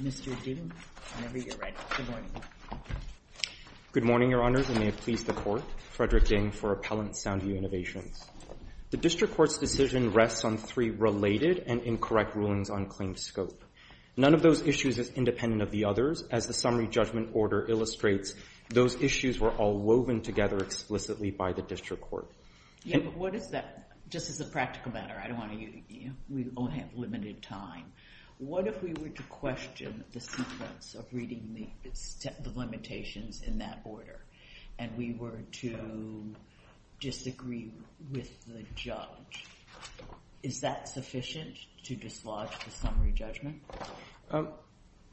Mr. Ding, whenever you're ready. Good morning. Good morning, Your Honors, and may it please the Court, Frederick Ding for Appellant Sound View Innovations. The District Court's decision rests on three related and incorrect rulings on claimed scope. None of those issues is independent of the others. As the summary judgment order illustrates, those issues were all woven together explicitly by the District Court. What is that? Just as a practical matter, I don't want to, you know, we only have limited time. What if we were to question the sequence of reading the limitations in that order and we were to disagree with the judge? Is that sufficient to dislodge the summary judgment?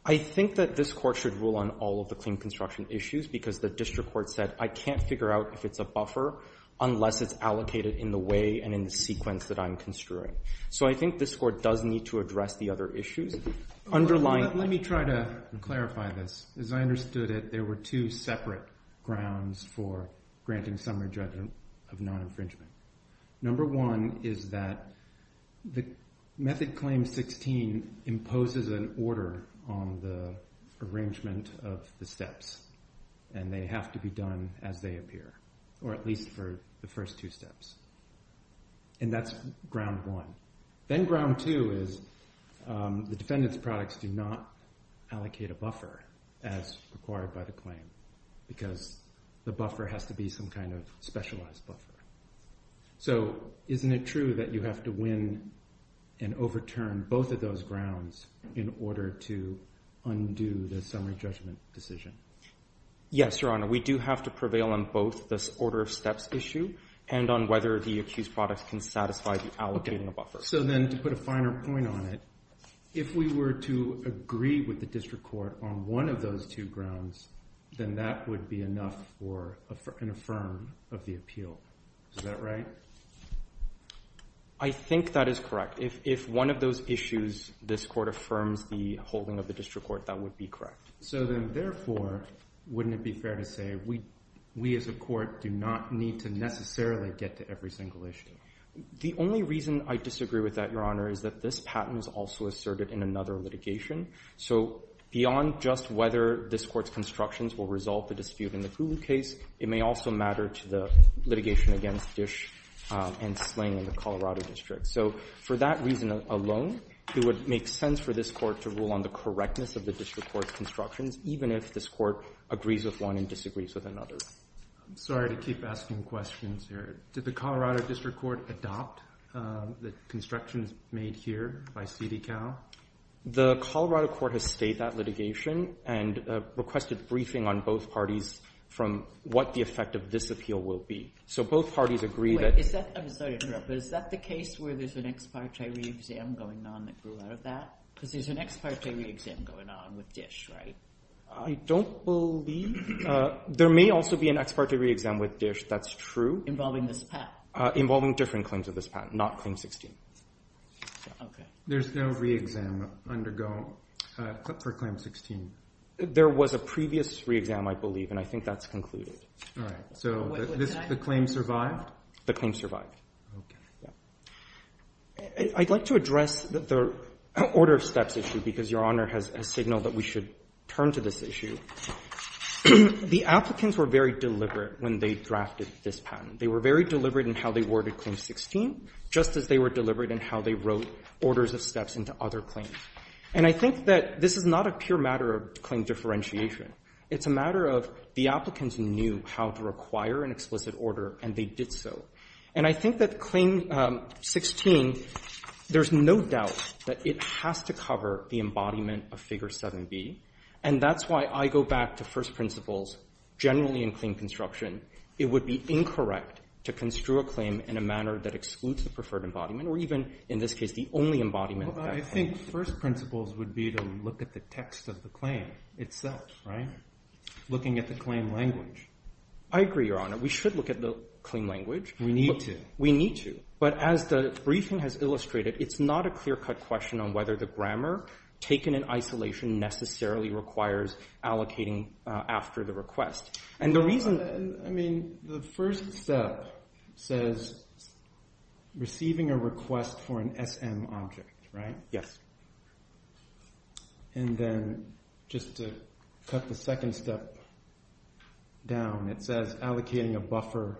I think that this Court should rule on all of the claimed construction issues because the District Court said, I can't figure out if it's a buffer unless it's allocated in the way and in the sequence that I'm construing. So I think this Court does need to address the other issues underlying. Let me try to clarify this. As I understood it, there were two separate grounds for granting summary judgment of non-infringement. Number one is that the Method Claim 16 imposes an order on the arrangement of the steps and they have to be done as they appear, or at least for the first two steps. And that's ground one. Then ground two is the defendant's products do not allocate a buffer as required by the claim because the buffer has to be some kind of specialized buffer. So isn't it true that you have to win and overturn both of those grounds in order to undo the summary judgment decision? Yes, Your Honor. We do have to prevail on both this order of steps issue and on whether the accused products can satisfy the allocating of buffers. So then to put a finer point on it, if we were to agree with the District Court on one of those two grounds, then that would be enough for an affirm of the appeal. Is that right? I think that is correct. If one of those issues this Court affirms the holding of the District Court, that would be correct. So then therefore, wouldn't it be fair to say we as a Court do not need to necessarily get to every single issue? The only reason I disagree with that, Your Honor, is that this patent is also asserted in another litigation. So beyond just whether this Court's constructions will resolve the dispute in the Gulu case, it may also matter to the litigation against Dish and Sling in the Colorado District. So for that reason alone, it would make sense for this Court to rule on the correctness of the District Court's constructions, even if this Court agrees with one and disagrees with another. I'm sorry to keep asking questions here. Did the Colorado District Court adopt the constructions made here by CDCAL? The Colorado Court has stayed that litigation and requested briefing on both parties from what the effect of this appeal will be. So both parties agree that— Wait. Is that—I'm sorry to interrupt, but is that the case where there's an ex parte re-exam going on that grew out of that? Because there's an ex parte re-exam going on with Dish, right? I don't believe—there may also be an ex parte re-exam with Dish. That's true. Involving this patent? Involving different claims of this patent, not Claim 16. Okay. There's no re-exam undergoing for Claim 16? There was a previous re-exam, I believe, and I think that's concluded. All right. So the claim survived? The claim survived. Okay. I'd like to address the order of steps issue, because Your Honor has signaled that we should turn to this issue. The applicants were very deliberate when they drafted this patent. They were very deliberate in how they worded Claim 16, just as they were deliberate in how they wrote orders of steps into other claims. And I think that this is not a pure matter of claim differentiation. It's a matter of the applicants knew how to require an explicit order, and they did so. And I think that Claim 16, there's no doubt that it has to cover the embodiment of Figure 7b, and that's why I go back to first principles generally in claim construction. It would be incorrect to construe a claim in a manner that excludes the preferred embodiment, or even, in this case, the only embodiment of that claim. Well, I think first principles would be to look at the text of the claim itself, right? Looking at the claim language. I agree, Your Honor. We should look at the claim language. We need to. We need to. But as the briefing has illustrated, it's not a clear-cut question on whether the grammar taken in isolation necessarily requires allocating after the request. I mean, the first step says receiving a request for an SM object, right? Yes. And then, just to cut the second step down, it says allocating a buffer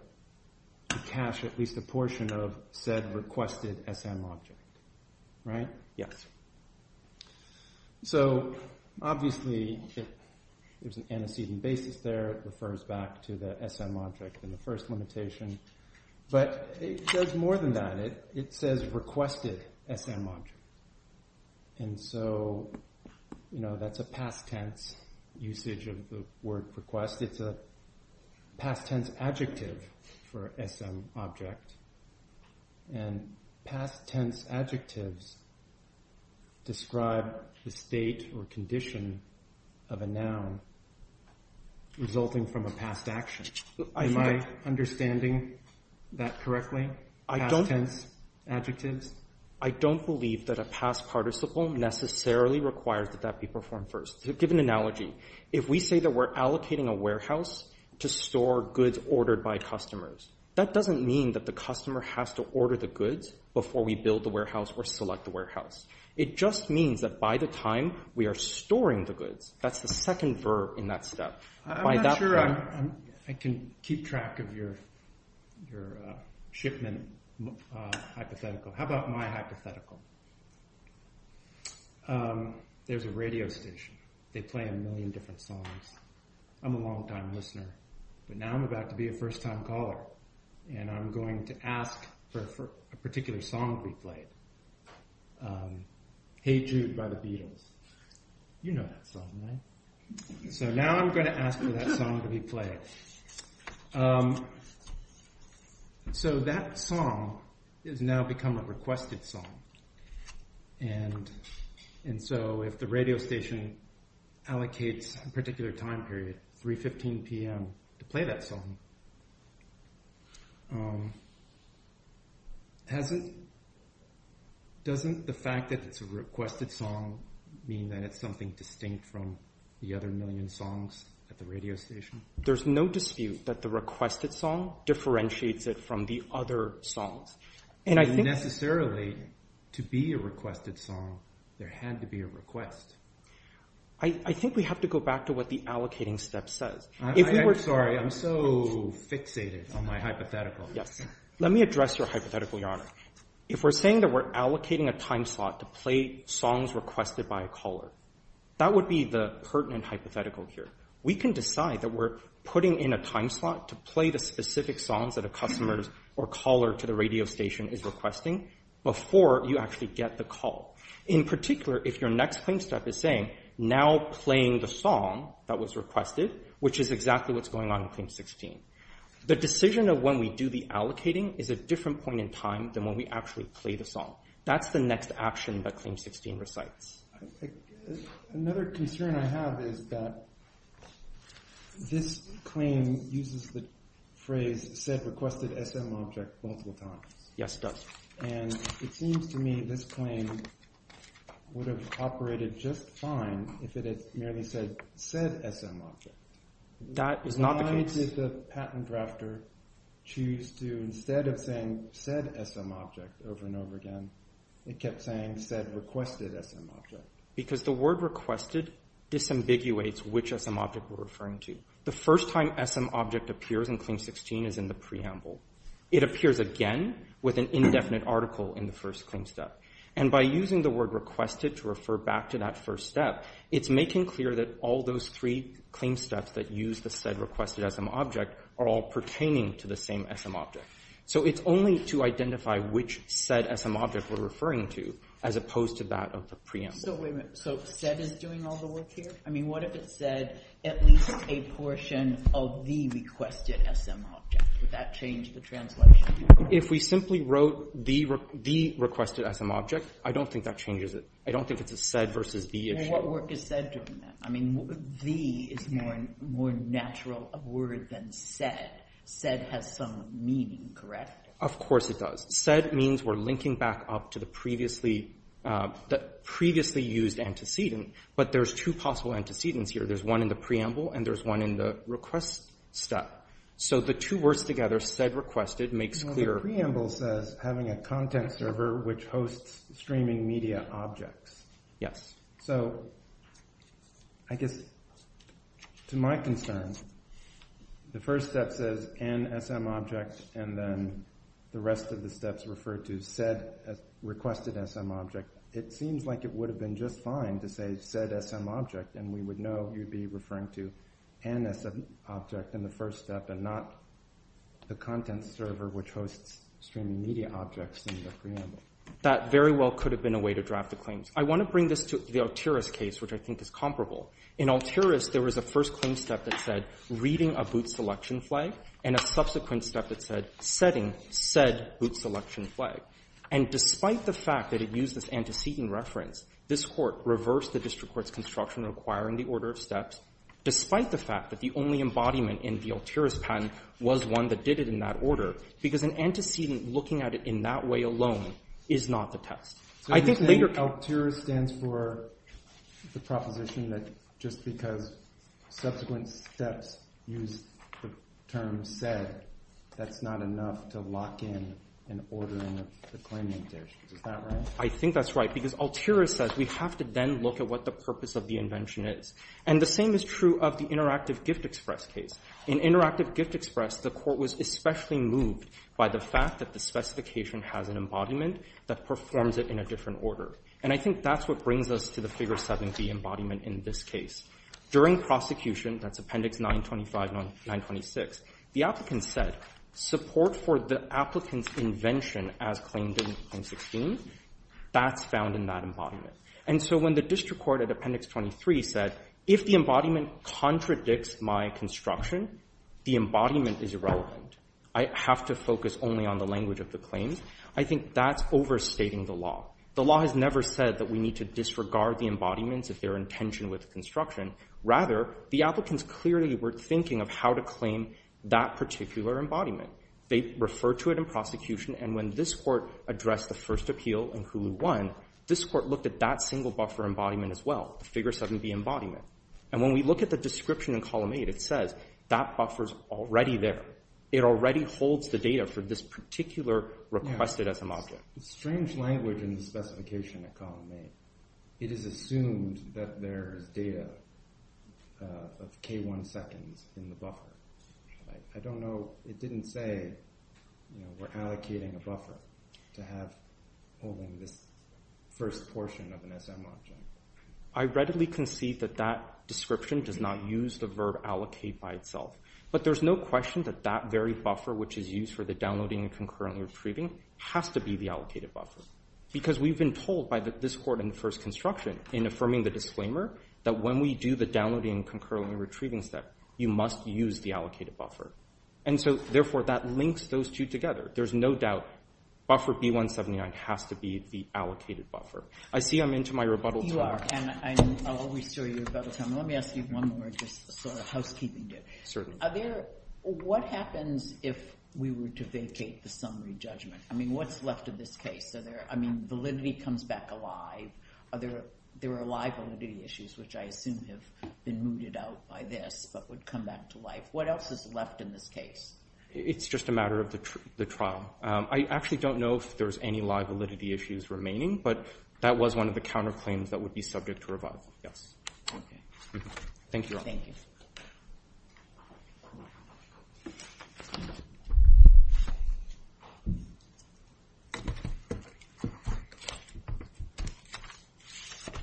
to cache at least a portion of said requested SM object, right? Yes. So, obviously, there's an antecedent basis there. It refers back to the SM object in the first limitation. But it says more than that. It says requested SM object. And so, that's a past tense usage of the word request. It's a past tense adjective for SM object. And past tense adjectives describe the state or condition of a noun resulting from a past action. Am I understanding that correctly? Past tense adjectives? I don't believe that a past participle necessarily requires that that be performed first. To give an analogy, if we say that we're allocating a warehouse to store goods ordered by customers, that doesn't mean that the customer has to order the goods before we build the warehouse or select the warehouse. It just means that by the time we are storing the goods, that's the second verb in that step. I'm not sure I can keep track of your shipment hypothetical. How about my hypothetical? There's a radio station. They play a million different songs. I'm a longtime listener. But now I'm about to be a first-time caller. And I'm going to ask for a particular song to be played. Hey Jude by the Beatles. You know that song, right? So now I'm going to ask for that song to be played. So that song has now become a requested song. And so if the radio station allocates a particular time period, 3.15 p.m., to play that song, doesn't the fact that it's a requested song mean that it's something distinct from the other million songs at the radio station? There's no dispute that the requested song differentiates it from the other songs. And necessarily, to be a requested song, there had to be a request. I think we have to go back to what the allocating step says. I'm sorry. I'm so fixated on my hypothetical. Let me address your hypothetical, Your Honor. If we're saying that we're allocating a time slot to play songs requested by a caller, that would be the pertinent hypothetical here. We can decide that we're putting in a time slot to play the specific songs that a customer or caller to the radio station is requesting before you actually get the call. In particular, if your next claim step is saying, now playing the song that was requested, which is exactly what's going on in Claim 16. The decision of when we do the allocating is a different point in time than when we actually play the song. That's the next action that Claim 16 recites. Another concern I have is that this claim uses the phrase said requested SM object multiple times. Yes, it does. And it seems to me this claim would have operated just fine if it had merely said said SM object. That is not the case. Why did the patent drafter choose to, instead of saying said SM object over and over again, it kept saying said requested SM object? Because the word requested disambiguates which SM object we're referring to. The first time SM object appears in Claim 16 is in the preamble. It appears again with an indefinite article in the first claim step. And by using the word requested to refer back to that first step, it's making clear that all those three claim steps that use the said requested SM object are all pertaining to the same SM object. So it's only to identify which said SM object we're referring to as opposed to that of the preamble. So said is doing all the work here? I mean, what if it said at least a portion of the requested SM object? Would that change the translation? If we simply wrote the requested SM object, I don't think that changes it. I don't think it's a said versus the issue. What work is said doing then? I mean, the is a more natural word than said. Said has some meaning, correct? Of course it does. Said means we're linking back up to the previously used antecedent. But there's two possible antecedents here. There's one in the preamble and there's one in the request step. So the two words together, said requested, makes clear... The preamble says having a content server which hosts streaming media objects. Yes. So I guess to my concern, the first step says NSM object and then the rest of the steps refer to said requested SM object. It seems like it would have been just fine to say said SM object and we would know you'd be referring to NSM object in the first step and not the content server which hosts streaming media objects in the preamble. That very well could have been a way to draft the claims. I want to bring this to the Altiris case which I think is comparable. In Altiris, there was a first claim step that said reading a boot selection flag and a subsequent step that said setting said boot selection flag. And despite the fact that it used this antecedent reference, this Court reversed the district court's construction requiring the order of steps despite the fact that the only embodiment in the Altiris patent was one that did it in that order because an antecedent looking at it in that way alone is not the test. So you're saying Altiris stands for the proposition that just because subsequent steps use the term said that's not enough to lock in an ordering of the claimant there. Is that right? I think that's right because Altiris says we have to then look at what the purpose of the invention is. And the same is true of the Interactive Gift Express case. In Interactive Gift Express, the Court was especially moved by the fact that the specification has an embodiment that performs it in a different order. And I think that's what brings us to the Figure 7B embodiment in this case. During prosecution, that's Appendix 925 and 926, the applicant said support for the applicant's invention as claimed in Claim 16, that's found in that embodiment. And so when the district court at Appendix 23 said, if the embodiment contradicts my construction, the embodiment is irrelevant. I have to focus only on the language of the claims. I think that's overstating the law. The law has never said that we need to disregard the embodiments if they're in tension with construction. Rather, the applicants clearly were thinking of how to claim that particular embodiment. They refer to it in prosecution, and when this Court addressed the first appeal in Hulu 1, this Court looked at that single buffer embodiment as well, the Figure 7B embodiment. And when we look at the description in Column 8, it says that buffer's already there. It already holds the data for this particular requested SM object. It's strange language in the specification at Column 8. It is assumed that there is data of K1 seconds in the buffer. I don't know, it didn't say we're allocating a buffer to have all in this first portion of an SM object. I readily concede that that description does not use the verb allocate by itself. But there's no question that that very buffer which is used for the downloading and concurrently retrieving has to be the allocated buffer. Because we've been told by this Court in the first construction in affirming the disclaimer that when we do the downloading and concurrently retrieving step, you must use the allocated buffer. And so, therefore, that links those two together. There's no doubt buffer B179 has to be the allocated buffer. I see I'm into my rebuttal time. You are, and I'll always show you your rebuttal time. Let me ask you one more housekeeping question. What happens if we were to vacate the summary judgment? What's left of this case? Validity comes back alive. There are live validity issues which I assume have been mooted out by this but would come back to life. What else is left in this case? It's just a matter of the trial. I actually don't know if there's any live validity issues remaining, but that was one of the counterclaims that would be subject to revival. Yes. Okay. Thank you, Your Honor. Thank you.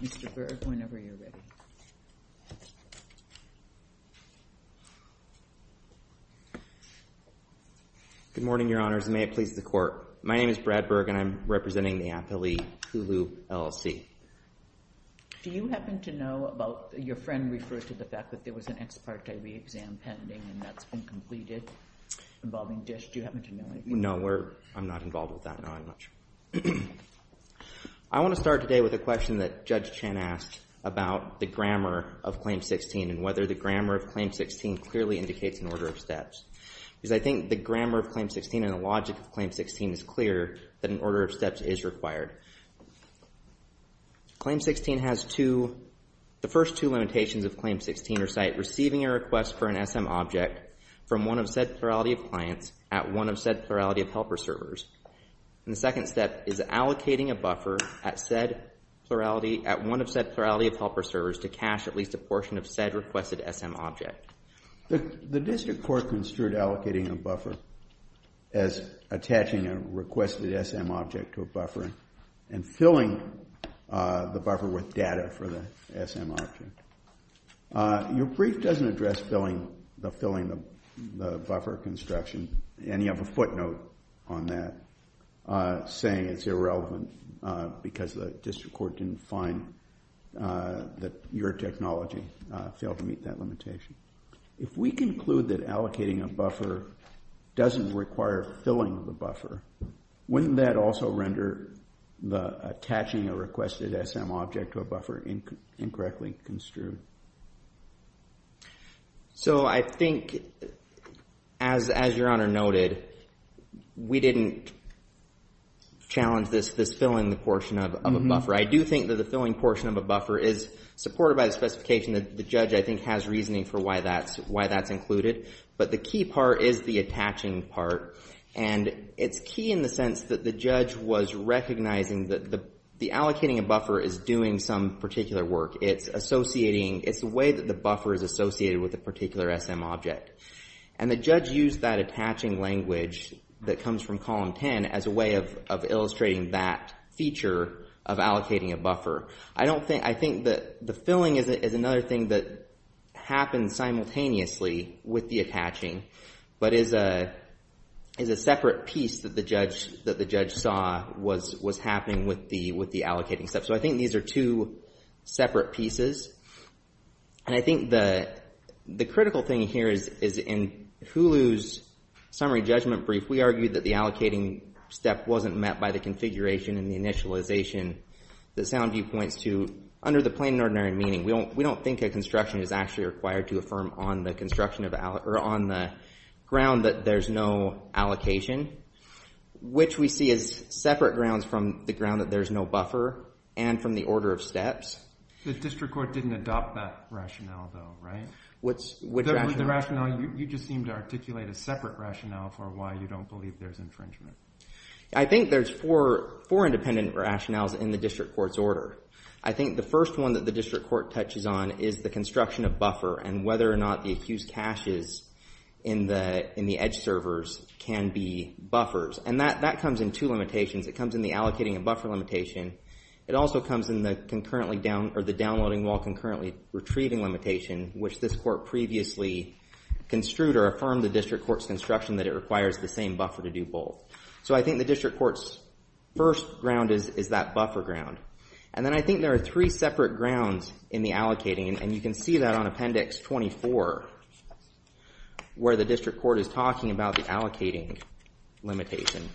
Mr. Berg, whenever you're ready. Good morning, Your Honors, and may it please the Court. My name is Brad Berg, and I'm representing the appellee Hulu LLC. Do you happen to know about – your friend referred to the fact that there was an ex parte re-exam pending, and that's been completed involving DISH. Do you happen to know anything about that? No, I'm not involved with that knowing much. I want to start today with a question that Judge Chen asked about the grammar of Claim 16 and whether the grammar of Claim 16 clearly indicates an order of steps. Because I think the grammar of Claim 16 and the logic of Claim 16 is clear that an order of steps is required. Claim 16 has two – the first two limitations of Claim 16 are site receiving a request for an SM object from one of said plurality of clients at one of said plurality of helper servers. And the second step is allocating a buffer at said plurality – at one of said plurality of helper servers to cache at least a portion of said requested SM object. The district court construed allocating a buffer as attaching a requested SM object to a buffer and filling the buffer with data for the SM object. Your brief doesn't address filling the buffer construction and you have a footnote on that saying it's irrelevant because the district court didn't find that your technology failed to meet that limitation. If we conclude that allocating a buffer doesn't require filling the buffer, wouldn't that also render the attaching a requested SM object to a buffer incorrectly construed? So I think as your Honor noted, we didn't challenge this filling the portion of a buffer. I do think that the filling portion of a buffer is supported by the specification that the judge I think has reasoning for why that's included. But the key part is the attaching part. And it's key in the sense that the judge was recognizing that the allocating a buffer is doing some particular work. It's associating – it's the way that the buffer is associated with a particular SM object. And the judge used that attaching language that comes from column 10 as a way of illustrating that feature of allocating a buffer. I don't think – I think that the filling is another thing that happens simultaneously with the attaching, but is a separate piece that the judge saw was happening with the allocating step. So I think these are two separate pieces. And I think the critical thing here is in Hulu's summary judgment brief, we argued that the allocating step wasn't met by the configuration and the initialization that SoundView points to under the plain and ordinary meaning. We don't think a construction is actually required to affirm on the construction of – or on the ground that there's no allocation, which we see as separate grounds from the ground that there's no buffer and from the order of steps. The district court didn't adopt that rationale though, right? Which rationale? The rationale you just seemed to articulate as separate rationale for why you don't believe there's infringement. I think there's four independent rationales in the district court's order. I think the first one that the district court touches on is the construction of buffer and whether or not the accused caches in the edge servers can be buffers. And that comes in two limitations. It comes in the allocating and buffer limitation. It also comes in the downloading while concurrently retrieving limitation, which this court previously construed or affirmed the district court's construction that it requires the same buffer to do both. So I think the district court's first ground is that buffer ground. And then I think there are three separate grounds in the allocating and you can see that on Appendix 24 where the district court is talking about the allocating limitation.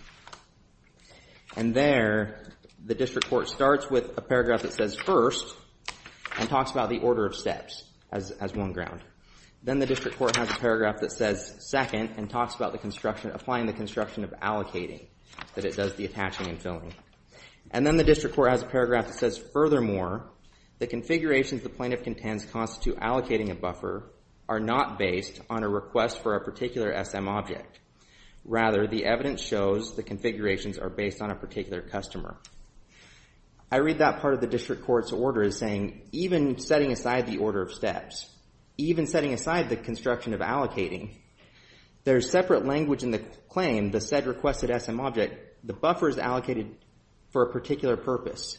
And there, the district court starts with a paragraph that says first and talks about the order of steps as one ground. Then the district court has a paragraph that says second and talks about the construction, applying the construction of allocating that it does the attaching and filling. And then the district court has a paragraph that says furthermore the configurations the plaintiff contends constitute allocating a buffer are not based on a request for a particular SM object. Rather, the evidence shows the configurations are based on a particular customer. I read that part of the district court's order as saying even setting aside the order of steps, even setting aside the construction of allocating, there's separate language in the claim, the said requested SM object. The buffer is allocated for a particular purpose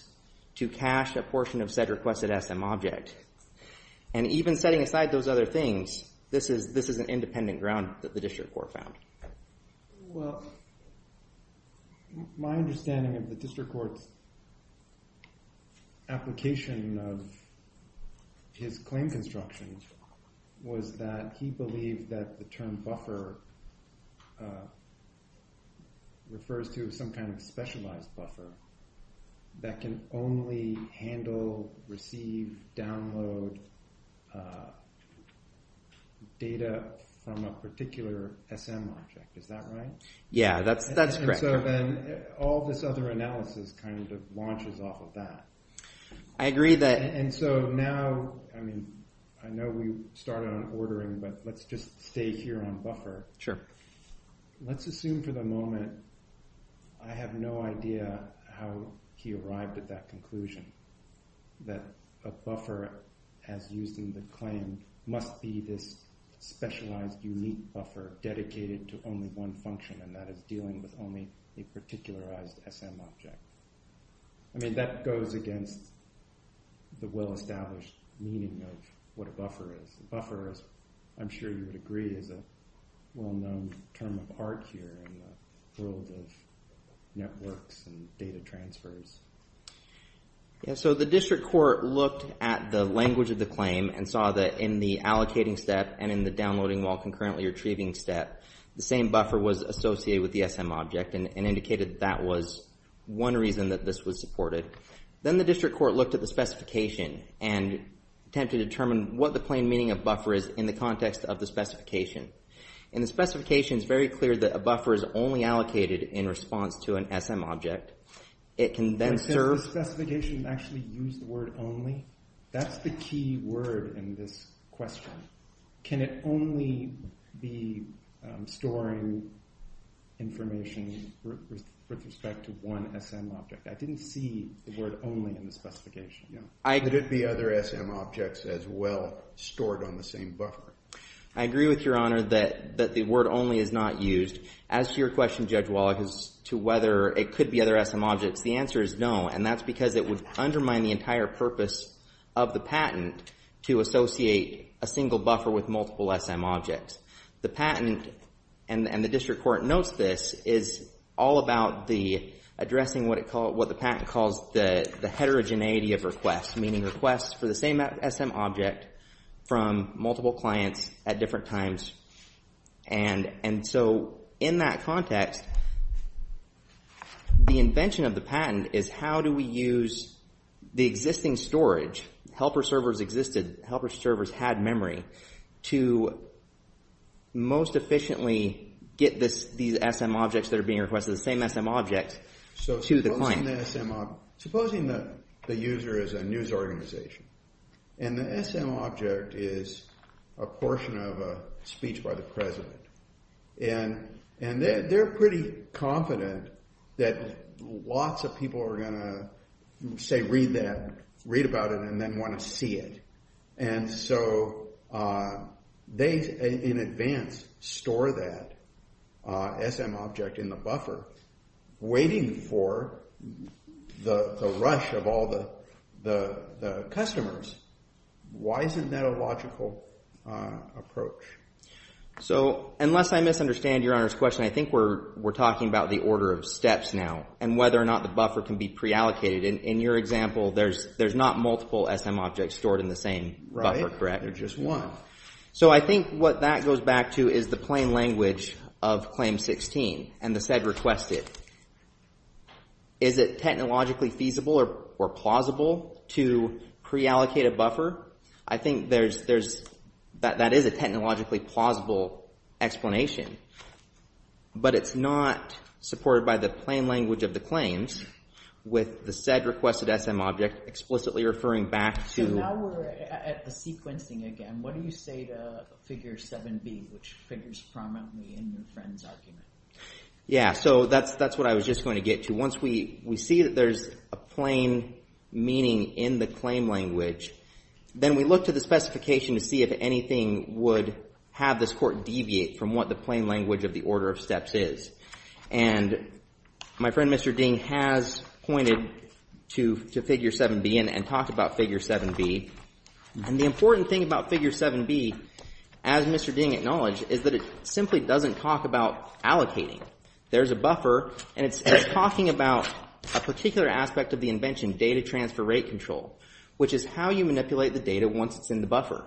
to cash a portion of said requested SM object. And even setting aside those other things, this is an independent ground that the district court found. Well, my understanding of the district court's application of his claim construction was that he believed that the term buffer refers to some kind of specialized buffer that can only handle, receive, download data from a particular SM object. Is that right? Yeah, that's correct. And so then all this other analysis kind of launches off of that. I agree that... And so now, I mean, I know we started on ordering, but let's just stay here on buffer. Let's assume for the moment I have no idea how he arrived at that conclusion that a buffer as used in the claim must be this specialized unique buffer dedicated to only one function, and that is dealing with only a particularized SM object. I mean, that goes against the well-established meaning of what a buffer is. A buffer is, I'm sure you would agree, is a well-known term of art here in the world of networks and data transfers. Yeah, so the district court looked at the language of the claim and saw that in the allocating step and in the downloading while concurrently retrieving step, the same buffer was associated with the SM object and indicated that was one reason that this was supported. Then the district court looked at the specification and attempted to determine what the plain meaning of buffer is in the context of the specification. In the specification, it's very clear that a buffer is only allocated in response to an SM object. It can then serve... But since the specification actually used the word only, that's the key word in this question. Can it only be storing information with respect to one SM object? I didn't see the word only in the specification. Could it be other SM objects as well stored on the same buffer? I agree with Your Honor that the word only is not used. As to your question, Judge Wallach, as to whether it could be other SM objects, the answer is no. And that's because it would undermine the entire purpose of the patent to associate a single buffer with multiple SM objects. The patent, and the district court notes this, is all about addressing what the patent calls the heterogeneity of requests, meaning requests for the same SM object from multiple clients at different times. And so in that context, the invention of the patent is how do we use the existing storage, helper servers existed, helper servers had memory, to most efficiently get these SM objects that are being requested, the same SM objects, to the client. Supposing the user is a news organization, and the SM object is a portion of a speech by the president. And they're pretty confident that lots of people are going to say read that, read about it, and then want to see it. And so they, in advance, store that SM object in the buffer, waiting for the rush of all the customers. Why isn't that a logical approach? So, unless I misunderstand your Honor's question, I think we're talking about the order of steps now, and whether or not the buffer can be pre-allocated. In your example, there's not multiple SM objects stored in the same buffer, correct? Right, there's just one. So I think what that goes back to is the plain language of Claim 16, and the said requested. Is it technologically feasible or plausible to pre-allocate a buffer? I think that is a technologically plausible explanation. But it's not supported by the plain language of the claims, with the said requested SM object explicitly referring back to... So now we're at the sequencing again. What do you say to Figure 7b, which figures prominently in your friend's argument? Yeah, so that's what I was just going to get to. Once we see that there's a plain meaning in the claim language, then we look to the specification to see if anything would have this court deviate from what the plain language of the order of steps is. And my friend Mr. Ding has pointed to Figure 7b, and talked about Figure 7b. And the important thing about Figure 7b, as Mr. Ding acknowledged, is that it simply doesn't talk about allocating. There's a buffer, and it's talking about a particular aspect of the invention, data transfer rate control, which is how you manipulate the data once it's in the buffer.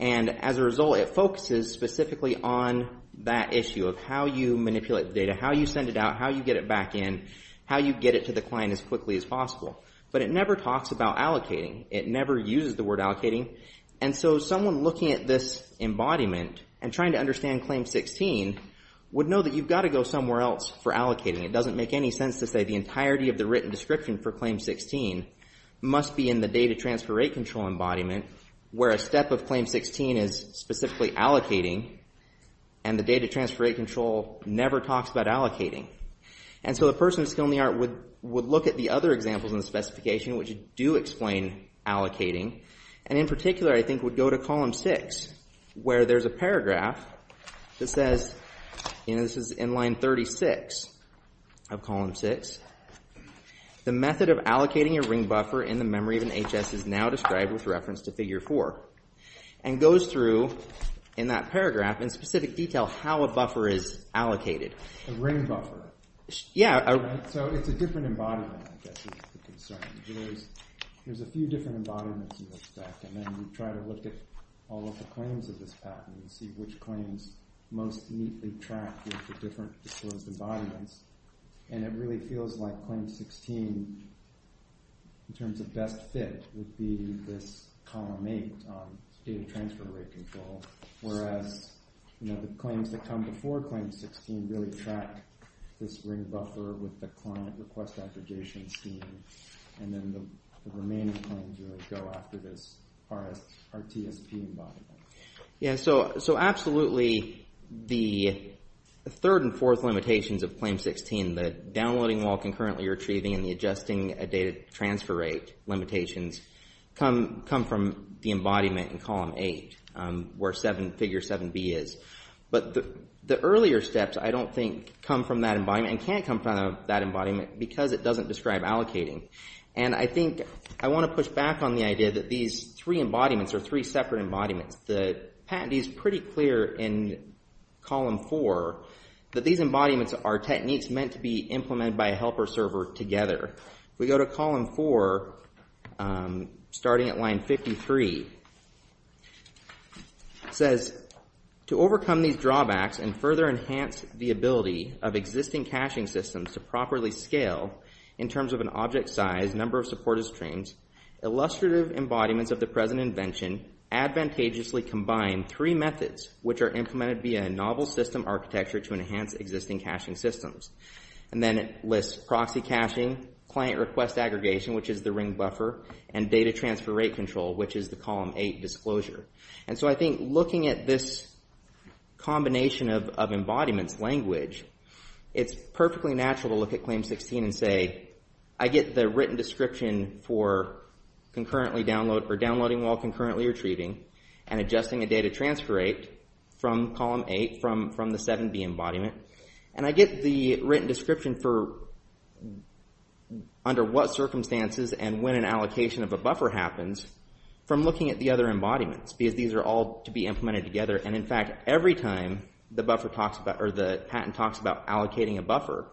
And as a result, it focuses specifically on that issue, of how you manipulate the data, how you send it out, how you get it back in, how you get it to the client as quickly as possible. But it never talks about allocating. It never uses the word allocating. And so someone looking at this embodiment, and trying to understand Claim 16, would know that you've got to go somewhere else for allocating. It doesn't make any sense to say the entirety of the written description for Claim 16 must be in the data transfer rate control embodiment, where a step of Claim 16 is specifically allocating, and the data transfer rate control never talks about allocating. And so the person with skill in the art would look at the other examples in the specification, which do explain allocating. And in particular, I think, would go to Column 6, where there's a paragraph that says, and this is in Line 36 of Column 6, the method of allocating a ring buffer in the memory of an HS is now described with reference to Figure 4. And goes through, in that paragraph, in specific detail, how a buffer is allocated. A ring buffer. Yeah. So it's a different embodiment, I guess, is the concern. There's a few different embodiments in this stack. And then we try to look at all of the claims of this pattern and see which claims most neatly track with the different disclosed embodiments. And it really feels like Claim 16, in terms of best fit, would be this Column 8 data transfer rate control. Whereas the claims that come before Claim 16 really track this ring buffer with the client request aggregation scheme. And then the remaining claims really go after this RTSP embodiment. Yeah, so absolutely, the third and fourth limitations of Claim 16, the downloading while concurrently retrieving and the adjusting data transfer rate limitations, come from the embodiment in Column 8, where Figure 7b is. But the earlier steps, I don't think, come from that embodiment, and can't come from that embodiment, because it doesn't describe allocating. And I think I want to push back on the idea that these three embodiments are three separate embodiments. The patentee's pretty clear in Column 4 that these embodiments are techniques meant to be implemented by a helper server together. We go to Column 4, starting at Line 53. It says, to overcome these drawbacks and further enhance the ability of existing caching systems to properly scale, in terms of an object size, number of supported streams, illustrative embodiments of the present invention advantageously combine three methods, which are implemented via a novel system architecture to enhance existing caching systems. And then it lists proxy caching, client request aggregation, which is the ring buffer, and data transfer rate control, which is the Column 8 disclosure. And so I think looking at this combination of embodiments language, it's perfectly natural to look at Claim 16 and say, I get the written description for downloading while concurrently retrieving and adjusting a data transfer rate from Column 8, from the 7b embodiment. And I get the written description for under what circumstances and when an allocation of a buffer happens from looking at the other embodiments, because these are all to be implemented together. And in fact, every time the patent talks about allocating a buffer,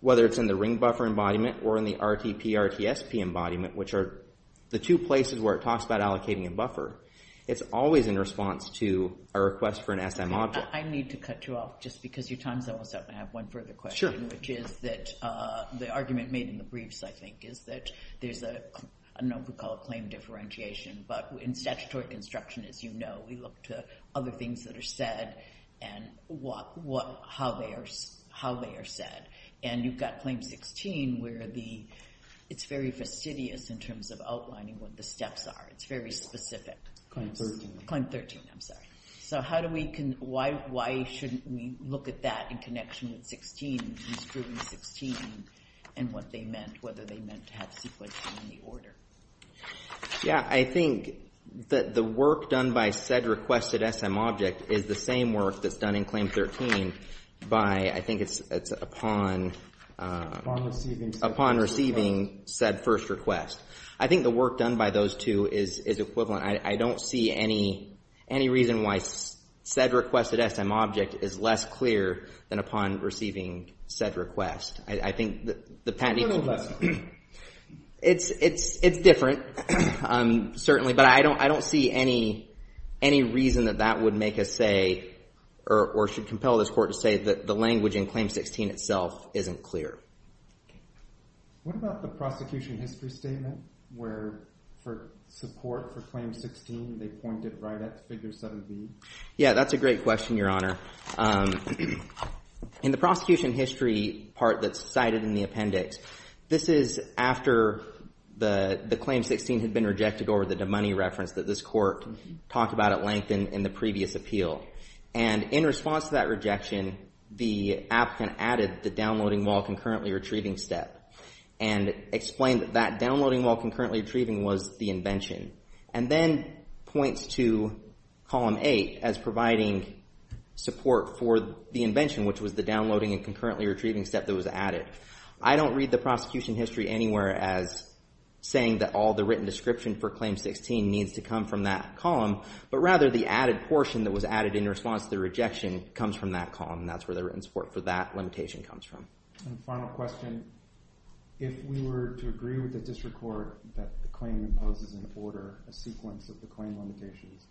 whether it's in the ring buffer embodiment, or in the RTP, RTSP embodiment, which are the two places where it talks about allocating a buffer, it's always in response to a request for an SM object. I need to cut you off, just because your time's almost up. I have one further question, which is that the argument made in the briefs, I think, is that there's a, I don't know if we call it claim differentiation, but in statutory construction, as you know, we look to other things that are said and how they are said. And you've got Claim 16, where it's very fastidious in terms of outlining what the steps are. It's very specific. Claim 13, I'm sorry. So how do we, why shouldn't we look at that in connection with 16, and what they meant, whether they meant to have sequencing in the order? Yeah, I think that the work done by said requested SM object is the same work that's done in Claim 13 by, I think it's upon... Upon receiving said first request. Upon receiving said first request. I think the work done by those two is equivalent. I don't see any reason why said requested SM object is less clear than upon receiving said request. I think the patent... A little less. It's different, certainly, but I don't see any reason that that would make us say, or should compel this court to say that the language in Claim 16 itself isn't clear. What about the prosecution history statement, where for support for Claim 16, they pointed right at Figure 7B? Yeah, that's a great question, Your Honor. In the prosecution history part that's cited in the appendix, this is after the Claim 16 had been rejected over the DeMoney reference that this court talked about at length in the previous appeal. And in response to that rejection, the applicant added the downloading while concurrently retrieving step and explained that that downloading while concurrently retrieving was the invention, and then points to Column 8 as providing support for the invention, which was the downloading and concurrently retrieving step that was added. I don't read the prosecution history anywhere as saying that all the written description for Claim 16 needs to come from that column, but rather the added portion that was added in response to the rejection comes from that column, and that's where the written support for that limitation comes from. And final question. If we were to agree with the district court that the claim imposes an order, a sequence of the claim limitations,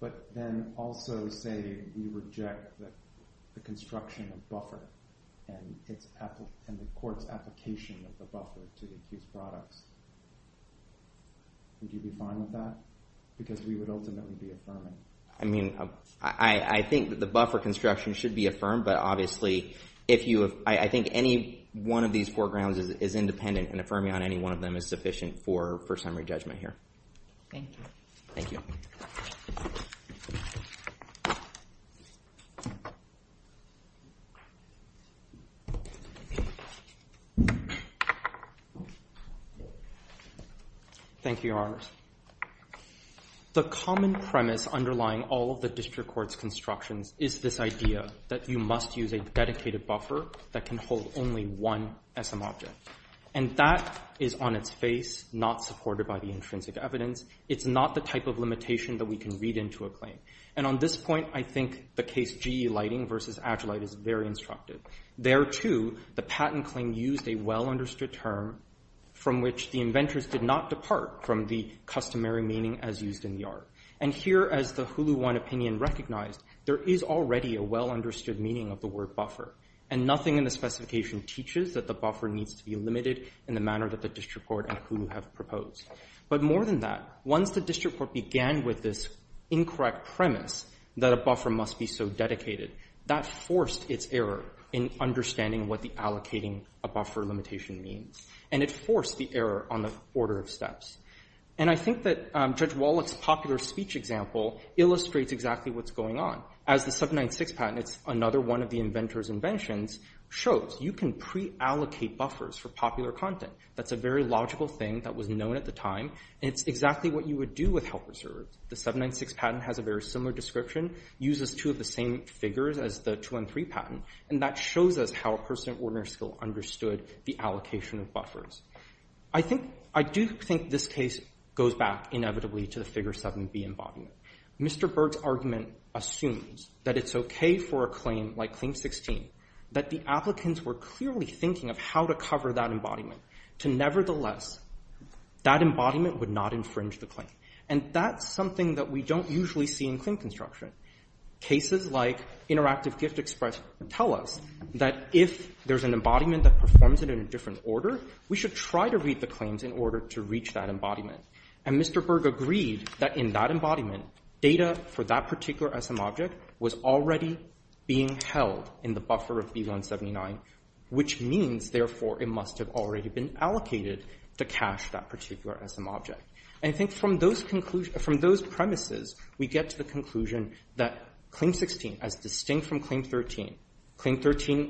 but then also say we reject the construction of buffer and the court's application of the buffer to these products, would you be fine with that? Because we would ultimately be affirming. I mean, I think that the buffer construction should be affirmed, but obviously if you have... I think any one of these foregrounds is independent, and affirming on any one of them is sufficient for summary judgment here. Thank you. Thank you. Thank you, Your Honors. The common premise underlying all of the district court's constructions is this idea that you must use a dedicated buffer that can hold only one SM object. And that is on its face, not supported by the intrinsic evidence. It's not the type of limitation that we can read into a claim. And on this point, I think the case GE Lighting versus Agilite is very instructive. There, too, the patent claim used a well-understood term from which the inventors did not depart from the customary meaning as used in the art. And here, as the Hulu One opinion recognized, there is already a well-understood meaning of the word buffer. And nothing in the specification teaches that the buffer needs to be limited in the manner that the district court and Hulu have proposed. But more than that, once the district court began with this incorrect premise that a buffer must be so dedicated, that forced its error in understanding what the allocating a buffer limitation means. And it forced the error on the order of steps. And I think that Judge Wallach's popular speech example illustrates exactly what's going on. As the 796 patent, another one of the inventor's inventions, shows you can pre-allocate buffers for popular content. That's a very logical thing that was known at the time, and it's exactly what you would do with helper servers. The 796 patent has a very similar description, uses two of the same figures as the 213 patent, and that shows us how a person at ordinary skill understood the allocation of buffers. I do think this case goes back, inevitably, to the Figure 7b embodiment. Mr. Berg's argument assumes that it's okay for a claim like Claim 16, that the applicants were clearly thinking of how to cover that embodiment, to nevertheless, that embodiment would not infringe the claim. And that's something that we don't usually see in claim construction. Cases like Interactive Gift Express tell us that if there's an embodiment that performs it in a different order, we should try to read the claims in order to reach that embodiment. And Mr. Berg agreed that in that embodiment, data for that particular SM object was already being held in the buffer of B179, which means, therefore, it must have already been allocated to cache that particular SM object. And I think from those premises, we get to the conclusion that Claim 16, as distinct from Claim 13,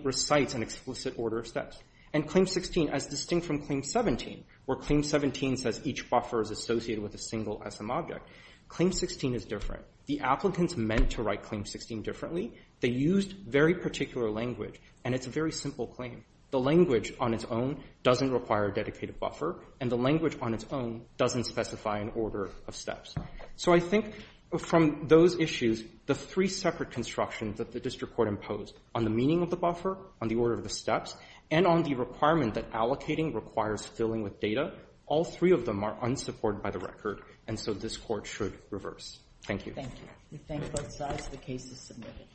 Recites an explicit order of steps. And Claim 16, as distinct from Claim 17, where Claim 17 says each buffer is associated with a single SM object, Claim 16 is different. The applicants meant to write Claim 16 differently. They used very particular language, and it's a very simple claim. The language on its own doesn't require a dedicated buffer, and the language on its own doesn't specify an order of steps. So I think from those issues, the three separate constructions that the District Court imposed on the meaning of the buffer, on the order of the steps, and on the requirement that allocating requires filling with data, all three of them are unsupported by the record, and so this Court should reverse. Thank you. Thank you. We thank both sides. The case is submitted.